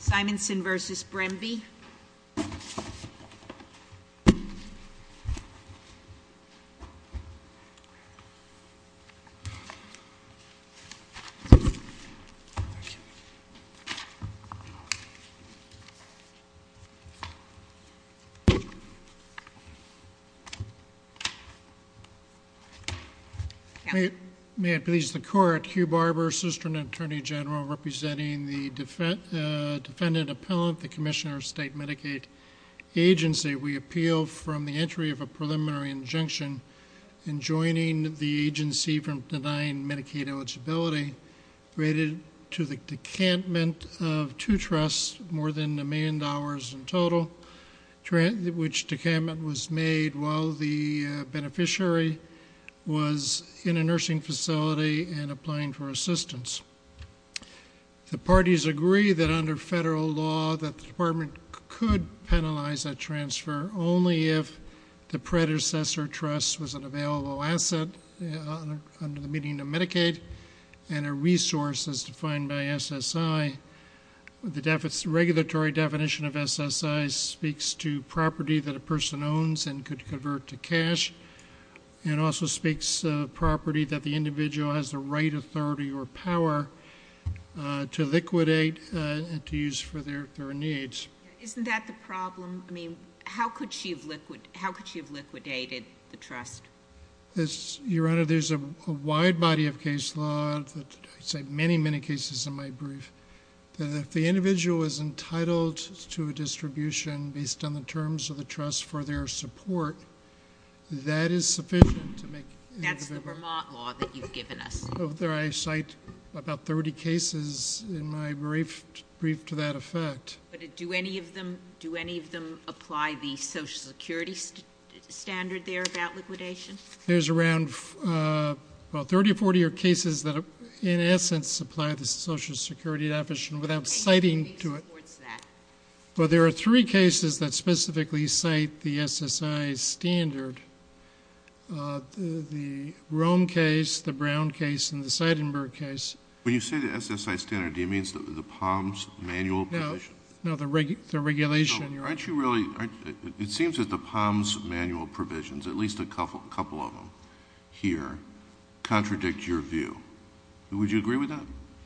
Simonsen versus Bremby May it please the court, Hugh Barber, Assistant Attorney General representing the defendant appellant, the Commissioner of State Medicaid Agency. We appeal from the entry of a preliminary injunction in joining the agency from denying Medicaid eligibility related to the decantment of two trusts more than a million dollars in total, which decantment was made while the beneficiary was in a under federal law that the department could penalize a transfer only if the predecessor trust was an available asset under the meaning of Medicaid and a resource as defined by SSI. The regulatory definition of SSI speaks to property that a person owns and could convert to cash. It also speaks property that the individual has the right authority or power to liquidate and to use for their needs. Isn't that the problem? I mean how could she have liquidated the trust? Your Honor, there's a wide body of case law, I'd say many many cases in my brief, that if the individual is entitled to a distribution based on the terms of the trust for their support that is sufficient. That's the Vermont law that you've given us. I cite about 30 cases in my brief to that effect. But do any of them do any of them apply the Social Security standard there about liquidation? There's around 30 or 40 cases that in essence supply the Social Security definition without citing to it. Well there are three cases that specifically cite the SSI standard. The Rome case, the Brown case, and the Seidenberg case. When you say the SSI standard do you mean the POMS manual provision? No, the regulation. It seems that the POMS manual provisions, at least a couple of them here, contradict your view. Would you agree with that?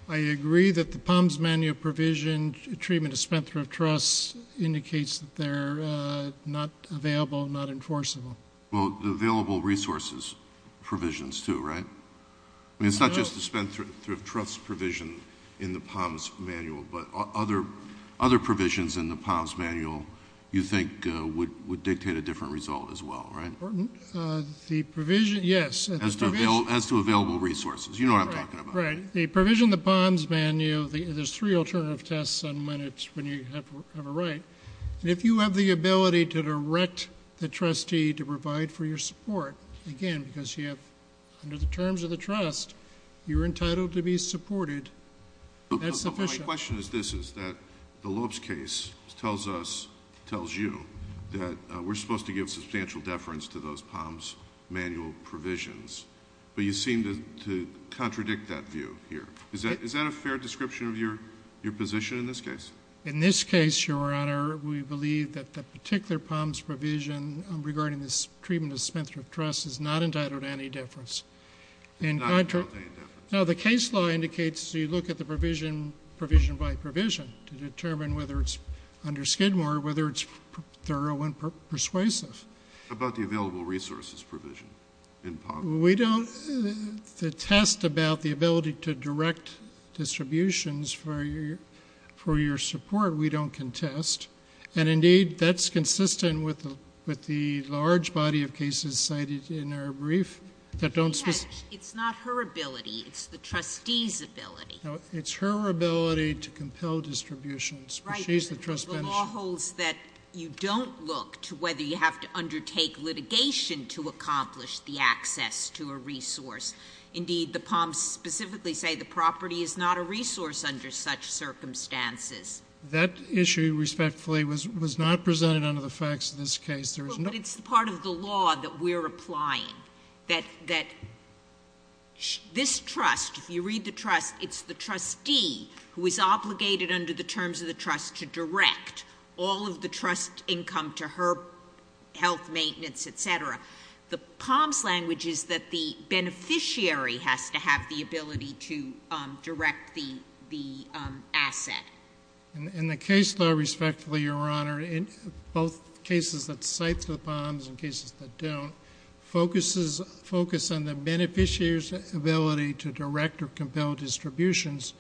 I agree that the POMS manual provision treatment of spent-thrift trusts indicates that they're not available, not enforceable. Well the available resources provisions too, right? I mean it's not just the spent-thrift trust provision in the POMS manual, but other provisions in the POMS manual you think would dictate a different result as well, right? The provision, yes. As to available resources, you know what I'm talking about. Right. The provision in the POMS manual, there's three alternative tests on when you have a right. If you have the ability to direct the trustee to provide for your support, again because you have, under the terms of the trust, you're entitled to be supported, that's sufficient. My question is this, is that the Lopes case tells us, tells you, that we're supposed to give substantial deference to those POMS manual provisions, but you seem to contradict that view here. Is that a fair description of your position in this case? In this case, Your Honor, we believe that that particular POMS provision regarding this treatment of spent-thrift trusts is not entitled to any deference. Now the case law indicates you look at the provision, provision by provision, to determine whether it's, under Skidmore, whether it's thorough and persuasive. What about the available resources provision in POMS? We don't, the test about the ability to direct distributions for your support, we don't contest, and indeed that's consistent with the large body of cases cited in our brief that don't specify. It's not her ability, it's the trustee's ability. No, it's her ability to compel whether you have to undertake litigation to accomplish the access to a resource. Indeed, the POMS specifically say the property is not a resource under such circumstances. That issue, respectfully, was not presented under the facts of this case. But it's part of the law that we're applying, that this trust, if you read the trust, it's the trustee who is obligated under the terms of the POMS. The POMS language is that the beneficiary has to have the ability to direct the asset. In the case law, respectfully, Your Honor, in both cases that cite the POMS and cases that don't, focus on the beneficiary's ability to direct or compel distributions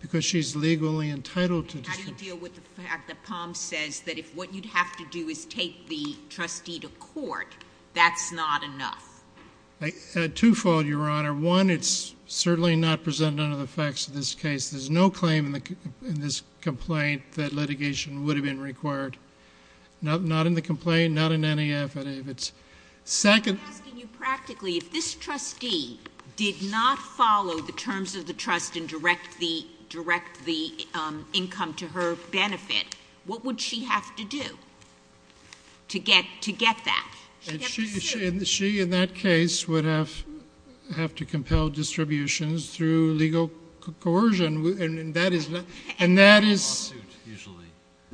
because she's legally entitled to. How do you deal with the fact that POMS says that if what you'd have to do is take the trustee to court, that's not enough? Two-fold, Your Honor. One, it's certainly not presented under the facts of this case. There's no claim in this complaint that litigation would have been required. Not in the complaint, not in any affidavits. Second... I'm asking you practically, if this trustee did not follow the terms of the trust and direct the income to her benefit, what would she have to do? To get that? She, in that case, would have to compel distributions through legal coercion. And that is... A lawsuit, usually.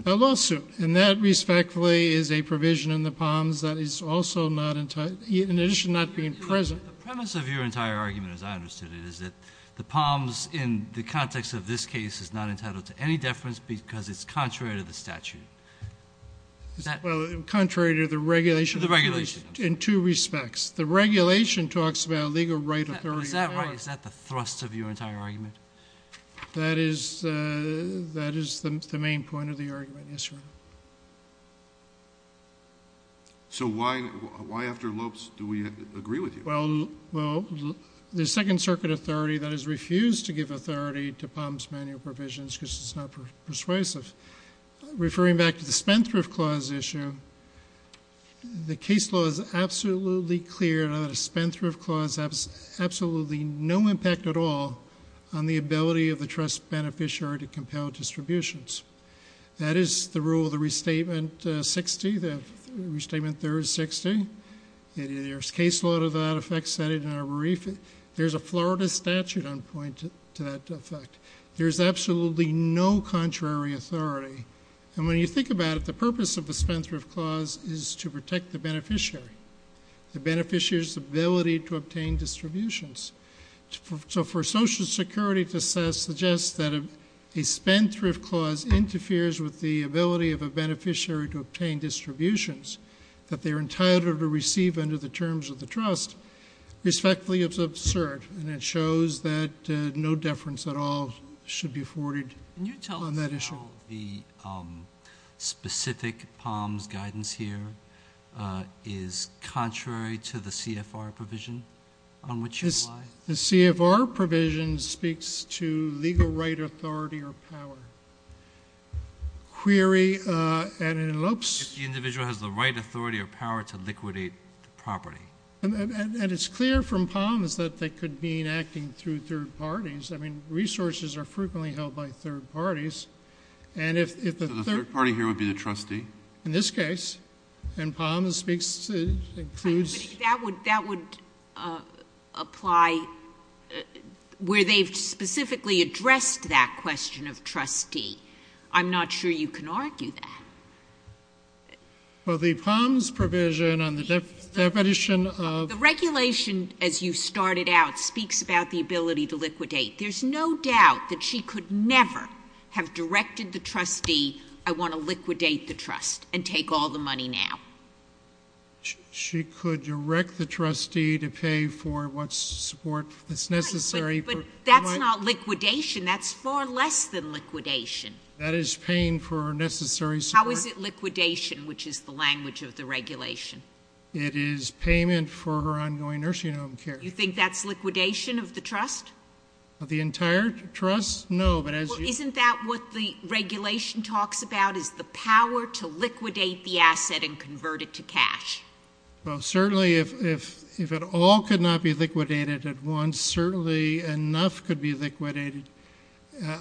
A lawsuit. And that, respectfully, is a provision in the POMS that is also not entitled, in addition to not being present. The premise of your entire argument, as I understood it, is that the POMS, in the context of this case, is not entitled to any deference because it's contrary to the statute. Contrary to the regulation? The regulation. In two respects. The regulation talks about legal right authority. Is that right? Is that the thrust of your entire argument? That is the main point of the argument, yes, Your Honor. So why after Lopes do we agree with you? Well, the Second Circuit authority that has refused to give authority to POMS manual provisions because it's not persuasive. Referring back to the Spendthrift Clause issue, the case law is absolutely clear that a Spendthrift Clause has absolutely no impact at all on the ability of the trust beneficiary to compel distributions. That is the rule of the Restatement 60, the Restatement 3060. There's case law to that effect. There's a Florida statute on point to that effect. There's absolutely no contrary authority. And when you think about it, the purpose of the Spendthrift Clause is to protect the beneficiary, the beneficiary's ability to obtain distributions. So for Social Security to suggest that a Spendthrift Clause interferes with the ability of a beneficiary to obtain distributions that they're entitled to receive under the terms of the trust, respectfully, it's absurd. And it shows that no deference at all should be afforded on that issue. The specific POMS guidance here is contrary to the CFR provision on which you apply? The CFR provision speaks to legal right, authority, or power. Query, and it elopes... If the individual has the right, authority, or power to liquidate property. And it's clear from POMS that they could mean acting through third parties. I mean, resources are frequently held by third parties. And if... So the third party here would be the trustee? In this case, and POMS speaks to, includes... That would, that would apply where they've specifically addressed that question of trustee. I'm not sure you can argue that. Well, the POMS provision on the definition of... The regulation, as you started out, speaks about the ability to liquidate. There's no doubt that she could never have directed the trustee, I want to liquidate the trust and take all the money now. She could direct the trustee to pay for what support that's necessary. But that's not liquidation. That's far less than liquidation. That is paying for necessary support. How is it liquidation, which is the language of the regulation? It is payment for her ongoing nursing home care. You think that's liquidation of the trust? Of the entire trust? No, but as you... Isn't that what the regulation talks about, is the power to liquidate the asset and convert it to cash? Well, certainly if it all could not be liquidated at once, certainly enough could be liquidated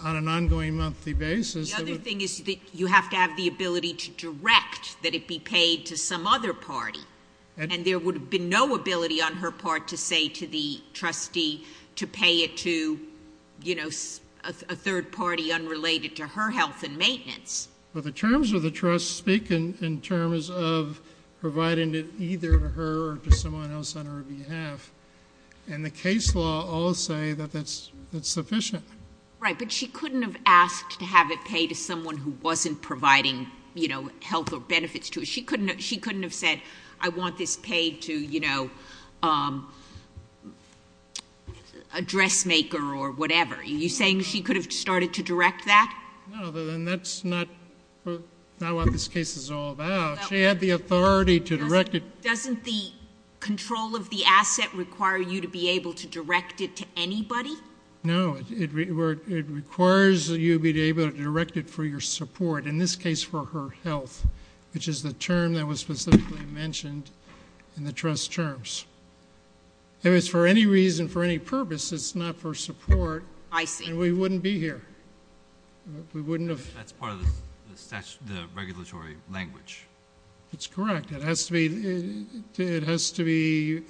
on an ongoing monthly basis. The other thing is that you have to have the ability to direct that it be paid to some other party. And there would have been no ability on her part to say to the trustee to pay it to a third party unrelated to her health and maintenance. But the terms of the trust speak in terms of providing it either to her or to someone else on her behalf. And the case law all say that that's sufficient. Right, but she couldn't have asked to have it paid to someone who wasn't providing health or benefits to her. She couldn't have said, I want this paid to... ...a dressmaker or whatever. Are you saying she could have started to direct that? No, then that's not what this case is all about. She had the authority to direct it. Doesn't the control of the asset require you to be able to direct it to anybody? No, it requires that you be able to direct it for your support, in this case for her health, which is the term that was specifically mentioned in the trust terms. If it's for any reason, for any purpose, it's not for support. I see. And we wouldn't be here. We wouldn't have... That's part of the statutory, the regulatory language. That's correct. It has to be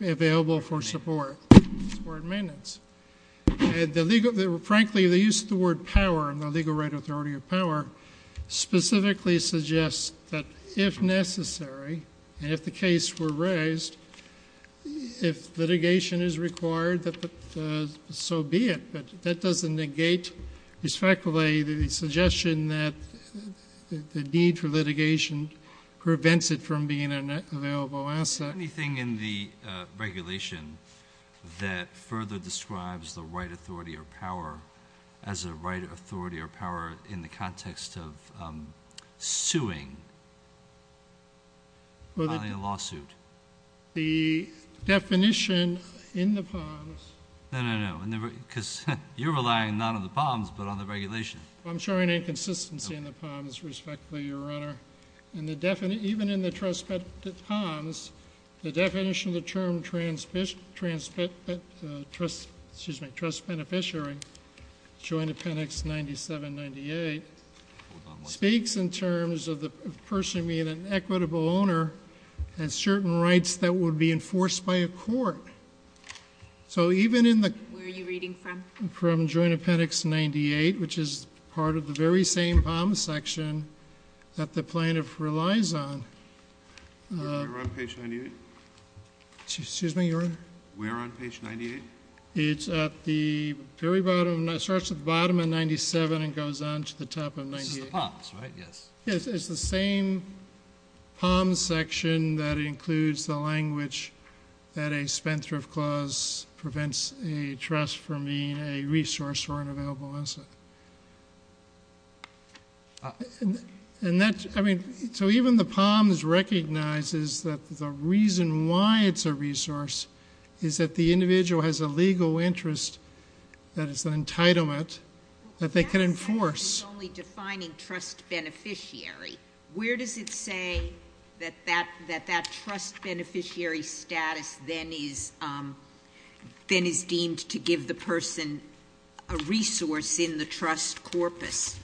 available for support, for maintenance. Frankly, the use of the word power and the legal right authority of power specifically suggests that if necessary, and if the case were raised, if litigation is required, so be it, but that doesn't negate respectfully the suggestion that the need for litigation prevents it from being an available asset. Anything in the regulation that further describes the right authority or power as a right authority or power in the context of suing or filing a lawsuit? The definition in the POMS... No, no, no, because you're relying not on the POMS, but on the regulation. I'm showing inconsistency in the POMS, respectfully, Your Honor. Even in the trust POMS, the definition of the term trust beneficiary, Joint Appendix 9798, speaks in terms of the person being an equitable owner has certain rights that would be enforced by a court. So even in the... Where are you reading from? From Joint Appendix 98, which is part of the very same POMS section that the plaintiff relies on. Where on page 98? Excuse me, Your Honor? Where on page 98? It's at the very bottom. It starts at the bottom of 97 and goes on to the top of 98. This is the POMS, right? Yes. Yes, it's the same POMS section that includes the language that a spendthrift clause prevents a trust from being a resource or an available asset. So even the POMS recognizes that the reason why it's a resource is that the individual has a legal interest that is an entitlement that they can enforce. Well, that's not the only defining trust beneficiary. Where does it say that that trust beneficiary status then is deemed to give the person a resource in the trust corpus?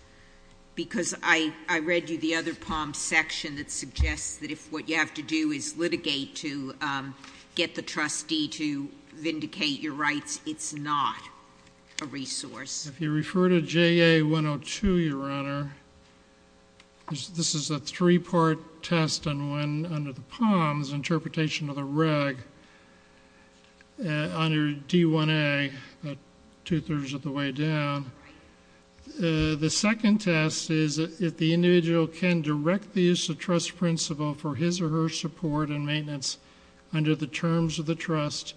Because I read you the other POMS section that suggests that if what you have to do is litigate to get the trustee to vindicate your rights, it's not a resource. If you refer to JA 102, Your Honor, this is a three-part test and one under the POMS interpretation of the reg under D1A, about two-thirds of the way down. The second test is if the individual can direct the use of trust principle for his or her support and maintenance under the terms of the trust,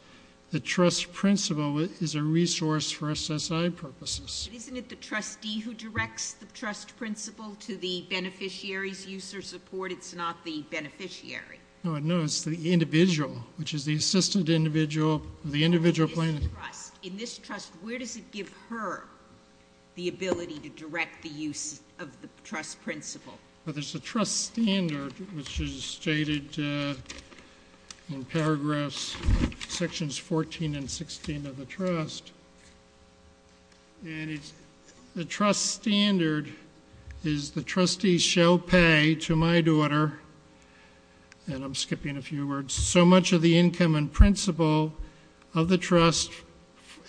the trust principle is a resource for SSI purposes. Isn't it the trustee who directs the trust principle to the beneficiary's use or support? It's not the beneficiary. No, it's the individual, which is the assistant individual, the individual plaintiff. In this trust, where does it give her the ability to direct the use of the trust principle? There's a trust standard, which is stated in paragraphs sections 14 and 16 of the trust. The trust standard is the trustee shall pay to my daughter, and I'm skipping a few words, so much of the income and principle of the trust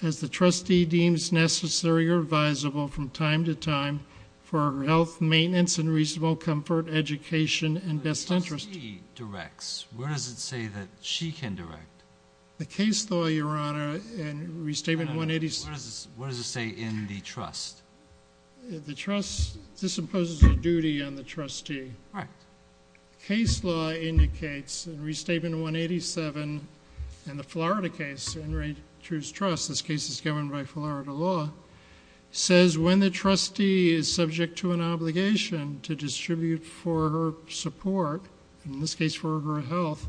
as the trustee deems necessary or advisable from time to time for her health, maintenance, and reasonable comfort, education, and best interest. The trustee directs. Where does it say that she can direct? The case law, Your Honor, in Restatement 186. What does it say in the trust? The trust, this imposes a duty on the trustee. Correct. Case law indicates in Restatement 187 in the Florida case, in Ray True's trust, this case is governed by Florida law, says when the trustee is subject to an obligation to distribute for her support, in this case for her health,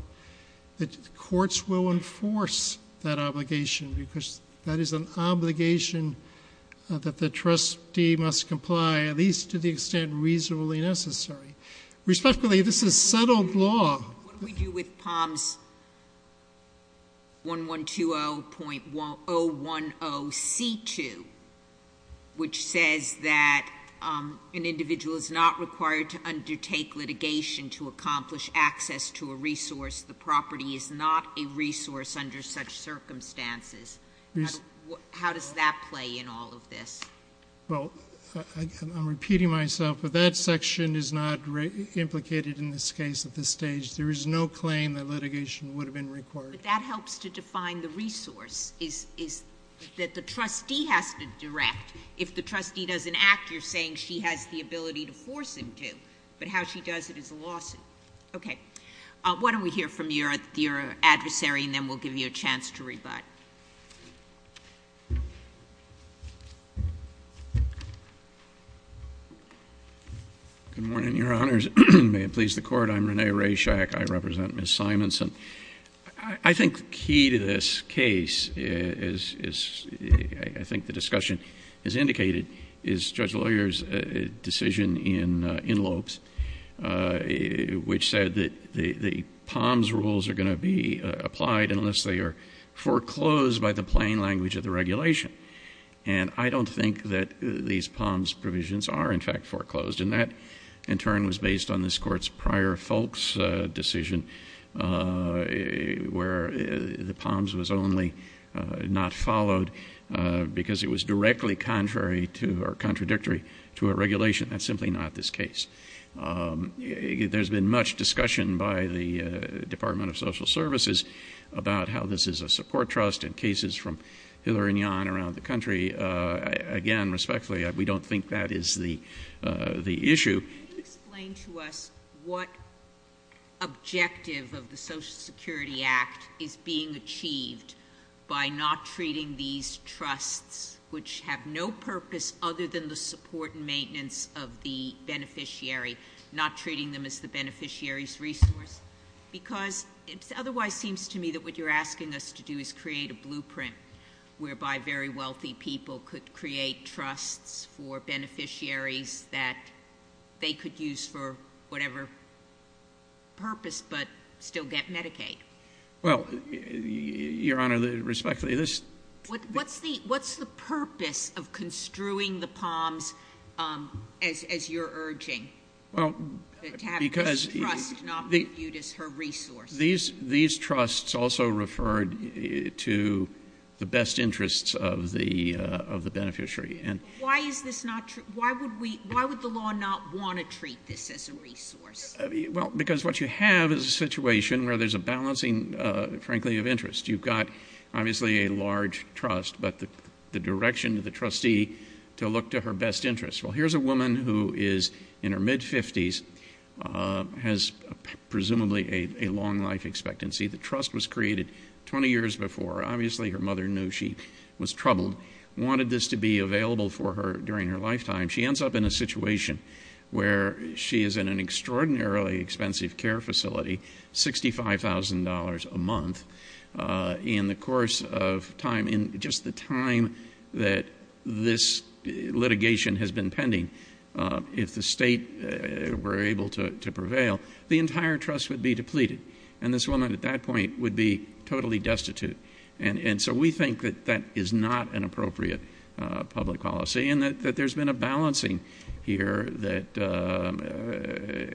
that courts will enforce that obligation because that is an obligation that the trustee must comply, at least to the extent reasonably necessary. Respectfully, this is settled law. What do we do with POMS 1120.010C2, which says that an individual is not required to undertake litigation to accomplish access to a resource. The property is not a resource under such circumstances. How does that play in all of this? Well, I'm repeating myself, but that section is not implicated in this case at this stage. There is no claim that litigation would have been required. But that helps to define the resource is that the trustee has to direct. If the trustee doesn't act, you're saying she has the ability to force him to, but how she does it is a lawsuit. Okay. Why don't we hear from your adversary and then we'll give you a chance to rebut. Good morning, Your Honors. May it please the Court. I'm Rene Reshack. I represent Ms. Simonson. I think the key to this case is, I think the discussion has indicated, is Judge Lawyer's decision in Lopes, which said that the POMS rules are going to be applied unless they are foreclosed by the plain language of the regulation. And I don't think that these POMS provisions are, in fact, foreclosed. And that, in turn, was based on this Court's prior Folk's decision, where the POMS was only not followed because it was directly contradictory to a regulation. That's simply not this case. There's been much discussion by the Department of Social Services about how this is a support trust and cases from Hillary and Jan around the country. Again, respectfully, we don't think that is the issue. Can you explain to us what objective of the Social Security Act is being achieved by not treating these trusts, which have no purpose other than the support and maintenance of the beneficiary, not treating them as the beneficiary's resource? Because it otherwise seems to me that what you're asking us to do is create a blueprint whereby very wealthy people could create trusts for beneficiaries that they could use for whatever purpose but still get Medicaid. Well, Your Honor, respectfully, this— What's the purpose of construing the POMS as you're urging? Well, because— To have this trust not viewed as her resource. These trusts also referred to the best interests of the beneficiary. Why would the law not want to treat this as a resource? Because what you have is a situation where there's a balancing, frankly, of interest. You've got, obviously, a large trust, but the direction of the trustee to look to her best interest. Well, here's a woman who is in her mid-50s, has presumably a long life expectancy. The trust was created 20 years before. Obviously, her mother knew she was troubled, wanted this to be available for her during her lifetime. She ends up in a situation where she is in an extraordinarily expensive care facility, $65,000 a month. In the course of time, in just the time that this litigation has been pending, if the state were able to prevail, the entire trust would be depleted. And this woman, at that point, would be totally destitute. And so we think that that is not an appropriate public policy and that there's been a balancing here that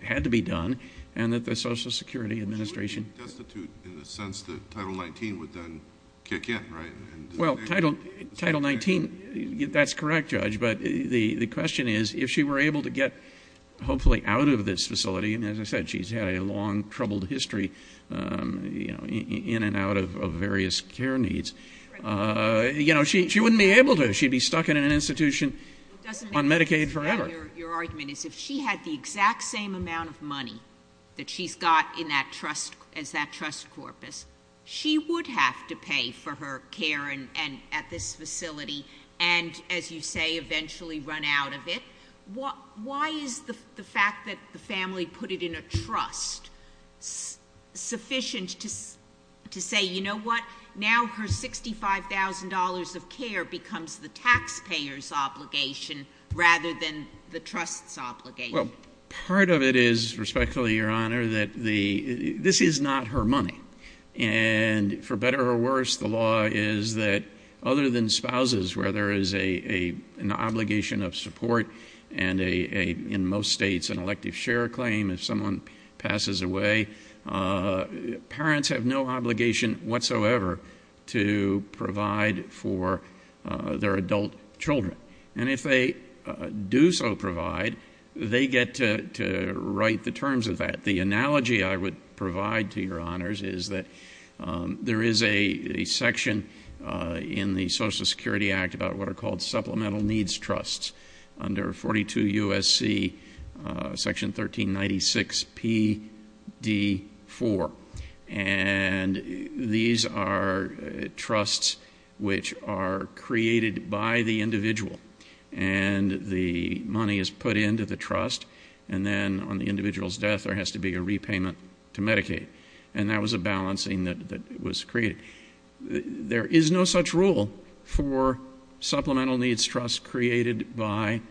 had to be done and that the Social Security Administration— Destitute in the sense that Title 19 would then kick in, right? Well, Title 19, that's correct, Judge. But the question is, if she were able to get, hopefully, out of this facility— and as I said, she's had a long, troubled history, in and out of various care needs— she wouldn't be able to. She'd be stuck in an institution on Medicaid forever. It doesn't make sense that your argument is if she had the exact same amount of money that she's got as that trust corpus, she would have to pay for her care at this facility. And, as you say, eventually run out of it. Why is the fact that the family put it in a trust sufficient to say, you know what, now her $65,000 of care becomes the taxpayer's obligation rather than the trust's obligation? Well, part of it is, respectfully, Your Honor, that this is not her money. And, for better or worse, the law is that, other than spouses, where there is an obligation of support and, in most states, an elective share claim if someone passes away, parents have no obligation whatsoever to provide for their adult children. And if they do so provide, they get to write the terms of that. The analogy I would provide to Your Honors is that there is a section in the Social Security Act about what are called supplemental needs trusts under 42 U.S.C. section 1396 P.D. 4. And these are trusts which are created by the individual. And the money is put into the trust. And then, on the individual's death, there has to be a repayment to Medicaid. And that was a balancing that was created. There is no such rule for supplemental needs trusts created by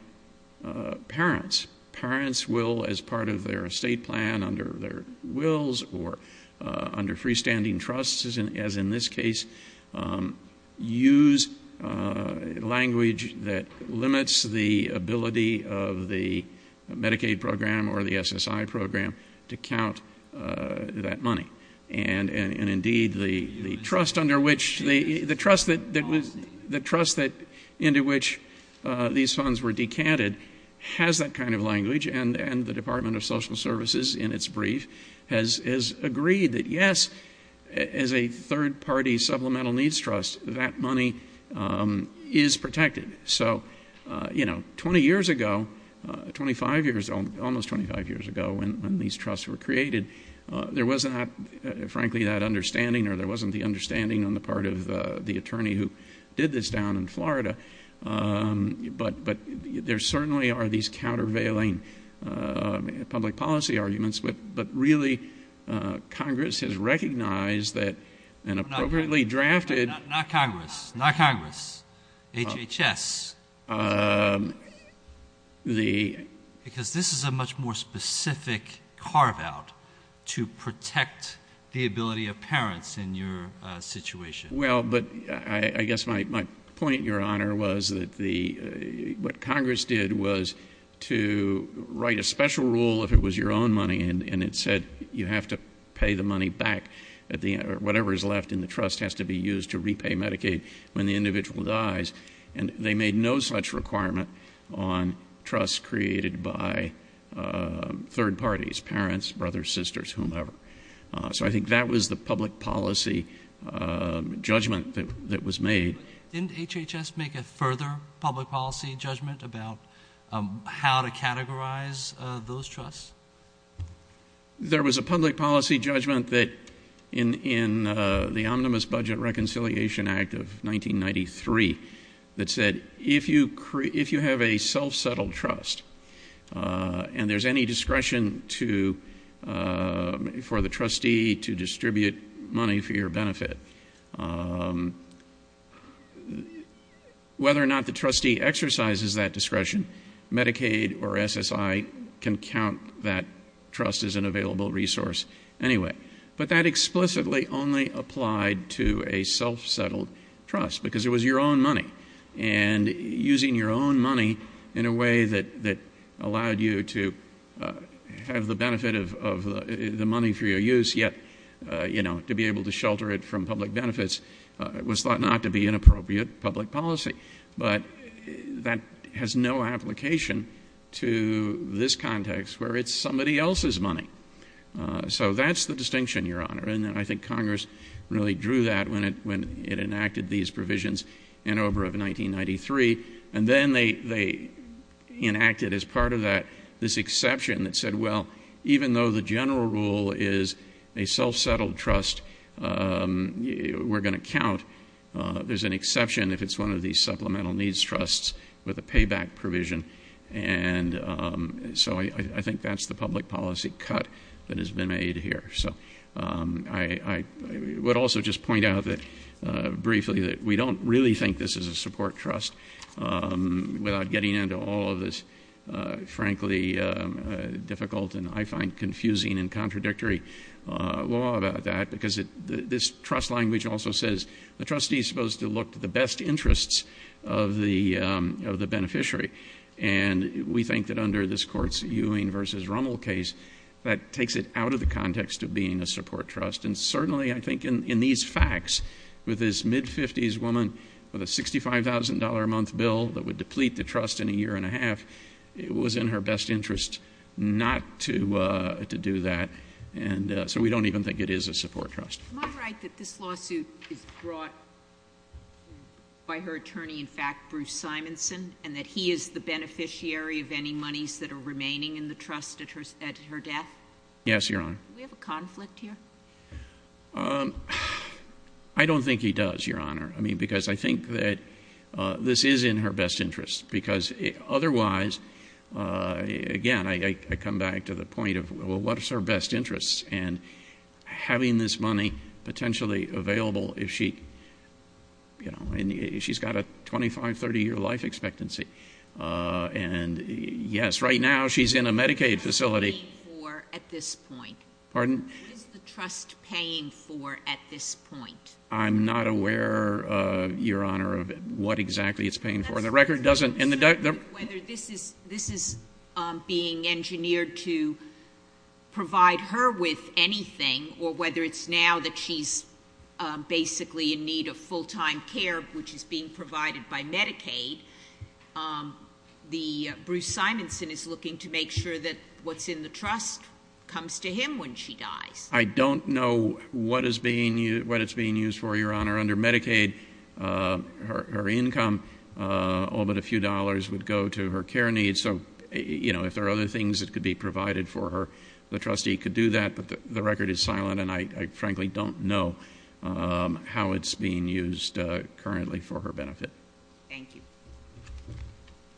parents. Parents will, as part of their estate plan, under their wills, or under freestanding trusts, as in this case, use language that limits the ability of the Medicaid program or the SSI program to count that money. And, indeed, the trust under which— the trust into which these funds were decanted has that kind of language. And the Department of Social Services, in its brief, has agreed that, yes, as a third-party supplemental needs trust, that money is protected. So, you know, 20 years ago, 25 years, almost 25 years ago, when these trusts were created, there was not, frankly, that understanding, or there wasn't the understanding on the part of the attorney who did this down in Florida. But there certainly are these countervailing public policy arguments. But, really, Congress has recognized that an appropriately drafted— Not Congress. Not Congress. HHS. Because this is a much more specific carve-out to protect the ability of parents in your situation. Well, but I guess my point, Your Honor, was that the— and it said you have to pay the money back at the— whatever is left in the trust has to be used to repay Medicaid when the individual dies. And they made no such requirement on trust created by third parties, parents, brothers, sisters, whomever. So I think that was the public policy judgment that was made. Didn't HHS make a further public policy judgment about how to categorize those trusts? There was a public policy judgment that, in the Omnibus Budget Reconciliation Act of 1993, that said if you have a self-settled trust and there's any discretion for the trustee to distribute money for your benefit, whether or not the trustee exercises that discretion, Medicaid or SSI can count that trust as an available resource anyway. But that explicitly only applied to a self-settled trust because it was your own money. And using your own money in a way that allowed you to have the benefit of the money for your use, yet, you know, to be able to shelter it from public benefits was thought not to be inappropriate public policy. But that has no application to this context where it's somebody else's money. So that's the distinction, Your Honor. And I think Congress really drew that when it enacted these provisions in OBRA of 1993. And then they enacted, as part of that, this exception that said, well, even though the general rule is a self-settled trust we're going to count, there's an exception if it's one of these supplemental needs trusts with a payback provision. And so I think that's the public policy cut that has been made here. So I would also just point out that, briefly, that we don't really think this is a support trust without getting into all of this, frankly, difficult and I find confusing and contradictory law about that. This trust language also says, the trustee is supposed to look to the best interests of the beneficiary. And we think that under this Court's Ewing v. Rummel case, that takes it out of the context of being a support trust. And certainly, I think, in these facts with this mid-50s woman with a $65,000 a month bill that would deplete the trust in a year and a half, it was in her best interest not to do that. And so we don't even think it is a support trust. Am I right that this lawsuit is brought by her attorney, in fact, Bruce Simonson, and that he is the beneficiary of any monies that are remaining in the trust at her death? Yes, Your Honor. Do we have a conflict here? I don't think he does, Your Honor. I mean, because I think that this is in her best interest. Because otherwise, again, I come back to the point of, well, what's her best interest? And having this money potentially available if she's got a 25, 30-year life expectancy. And yes, right now, she's in a Medicaid facility. What is the trust paying for at this point? Pardon? What is the trust paying for at this point? I'm not aware, Your Honor, of what exactly it's paying for. And the record doesn't— Whether this is being engineered to provide her with anything, or whether it's now that she's basically in need of full-time care, which is being provided by Medicaid, Bruce Simonson is looking to make sure that what's in the trust comes to him when she dies. I don't know what it's being used for, Your Honor. Under Medicaid, her income, all but a few dollars, would go to her care needs. So, you know, if there are other things that could be provided for her, the trustee could do that. But the record is silent, and I frankly don't know how it's being used currently for her benefit. Thank you.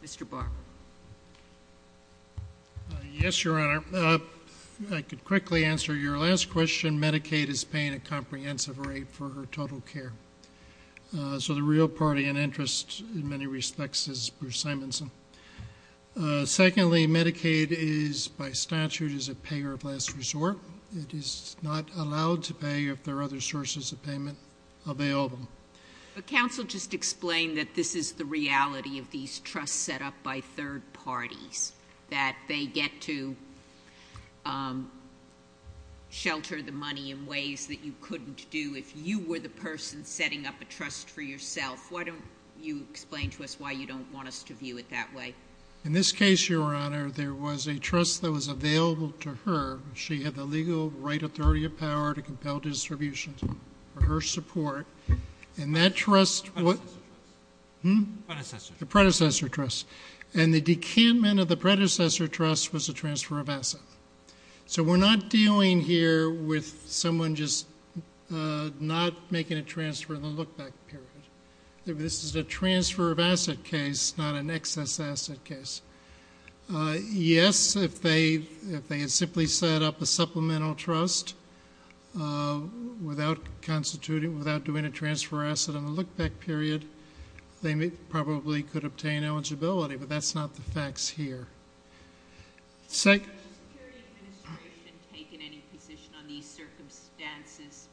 Mr. Barber. Yes, Your Honor. I could quickly answer your last question. Medicaid is paying a comprehensive rate for her total care. So the real party in interest, in many respects, is Bruce Simonson. Secondly, Medicaid is, by statute, is a payer of last resort. It is not allowed to pay if there are other sources of payment available. But counsel just explained that this is the reality of these trusts set up by third parties, that they get to shelter the money in ways that you couldn't do if you were the person setting up a trust for yourself. Why don't you explain to us why you don't want us to view it that way? In this case, Your Honor, there was a trust that was available to her. She had the legal right, authority, and power to compel distributions for her support. And that trust— Predecessor trust. Hmm? Predecessor trust. The predecessor trust. And the decantment of the predecessor trust was a transfer of asset. So we're not dealing here with someone just not making a transfer in the look-back period. This is a transfer of asset case, not an excess asset case. Yes, if they had simply set up a supplemental trust without constituting, without doing a transfer of asset in the look-back period, they probably could obtain eligibility. But that's not the facts here. Has the Social Security Administration taken any position on these circumstances?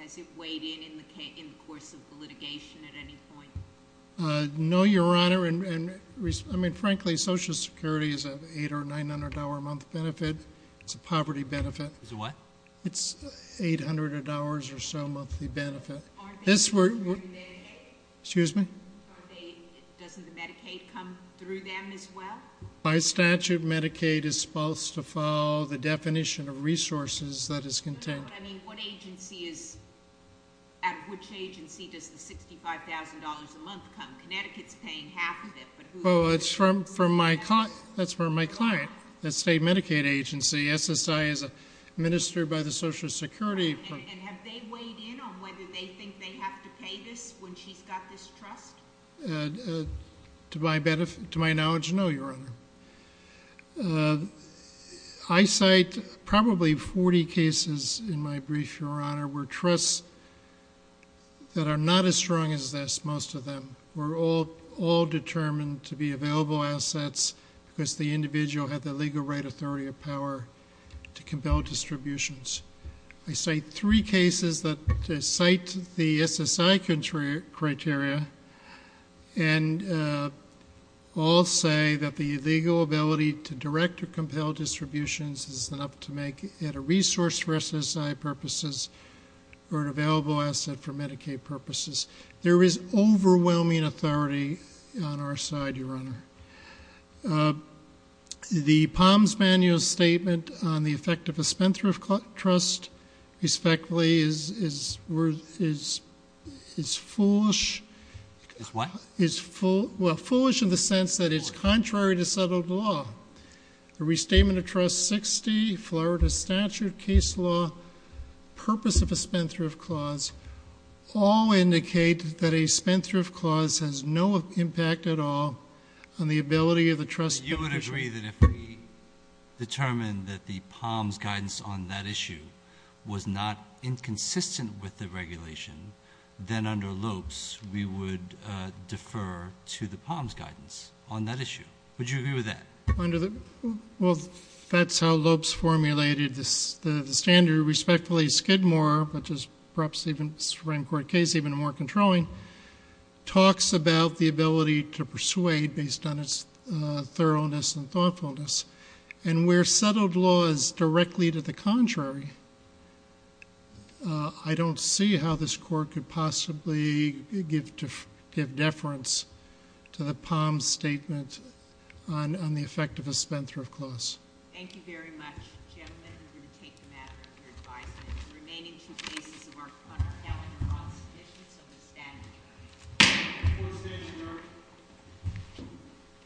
Has it weighed in in the course of the litigation at any point? No, Your Honor. I mean, frankly, Social Security is an $800 or $900 a month benefit. It's a poverty benefit. It's a what? It's $800 or so monthly benefit. Are they coming through Medicaid? Excuse me? Doesn't the Medicaid come through them as well? By statute, Medicaid is supposed to follow the definition of resources that is contained. I mean, what agency is—at which agency does the $65,000 a month come? Connecticut's paying half of it, but who— Oh, it's from my client. That's from my client, the state Medicaid agency. SSI is administered by the Social Security. And have they weighed in on whether they think they have to pay this when she's got this trust? To my knowledge, no, Your Honor. I cite probably 40 cases in my brief, Your Honor, where trusts that are not as strong as this, most of them, were all determined to be available assets because the individual had the legal right, authority, or power to compel distributions. I cite three cases that cite the SSI criteria and all say that the legal ability to direct or compel distributions is enough to make it a resource for SSI purposes or an available asset for Medicaid purposes. There is overwhelming authority on our side, Your Honor. The Palm's Manual statement on the effect of a spendthrift trust, respectfully, is foolish. It's what? It's—well, foolish in the sense that it's contrary to settled law. The Restatement of Trust 60, Florida Statute, Case Law, Purpose of a Spendthrift Clause all indicate that a spendthrift clause has no impact at all on the ability of the trust— You would agree that if we determined that the Palm's guidance on that issue was not inconsistent with the regulation, then under Lopes, we would defer to the Palm's guidance on that issue. Would you agree with that? Well, that's how Lopes formulated the standard. Respectfully, Skidmore, which is perhaps even a Supreme Court case, even more controlling, talks about the ability to persuade based on its thoroughness and thoughtfulness, and where settled law is directly to the contrary, I don't see how this Court could possibly give deference to the Palm's statement on the effect of a spendthrift clause. Thank you very much, gentlemen. We're going to take a matter of your advisement. The remaining two cases are on our calendar on this issue, so we'll stand adjourned.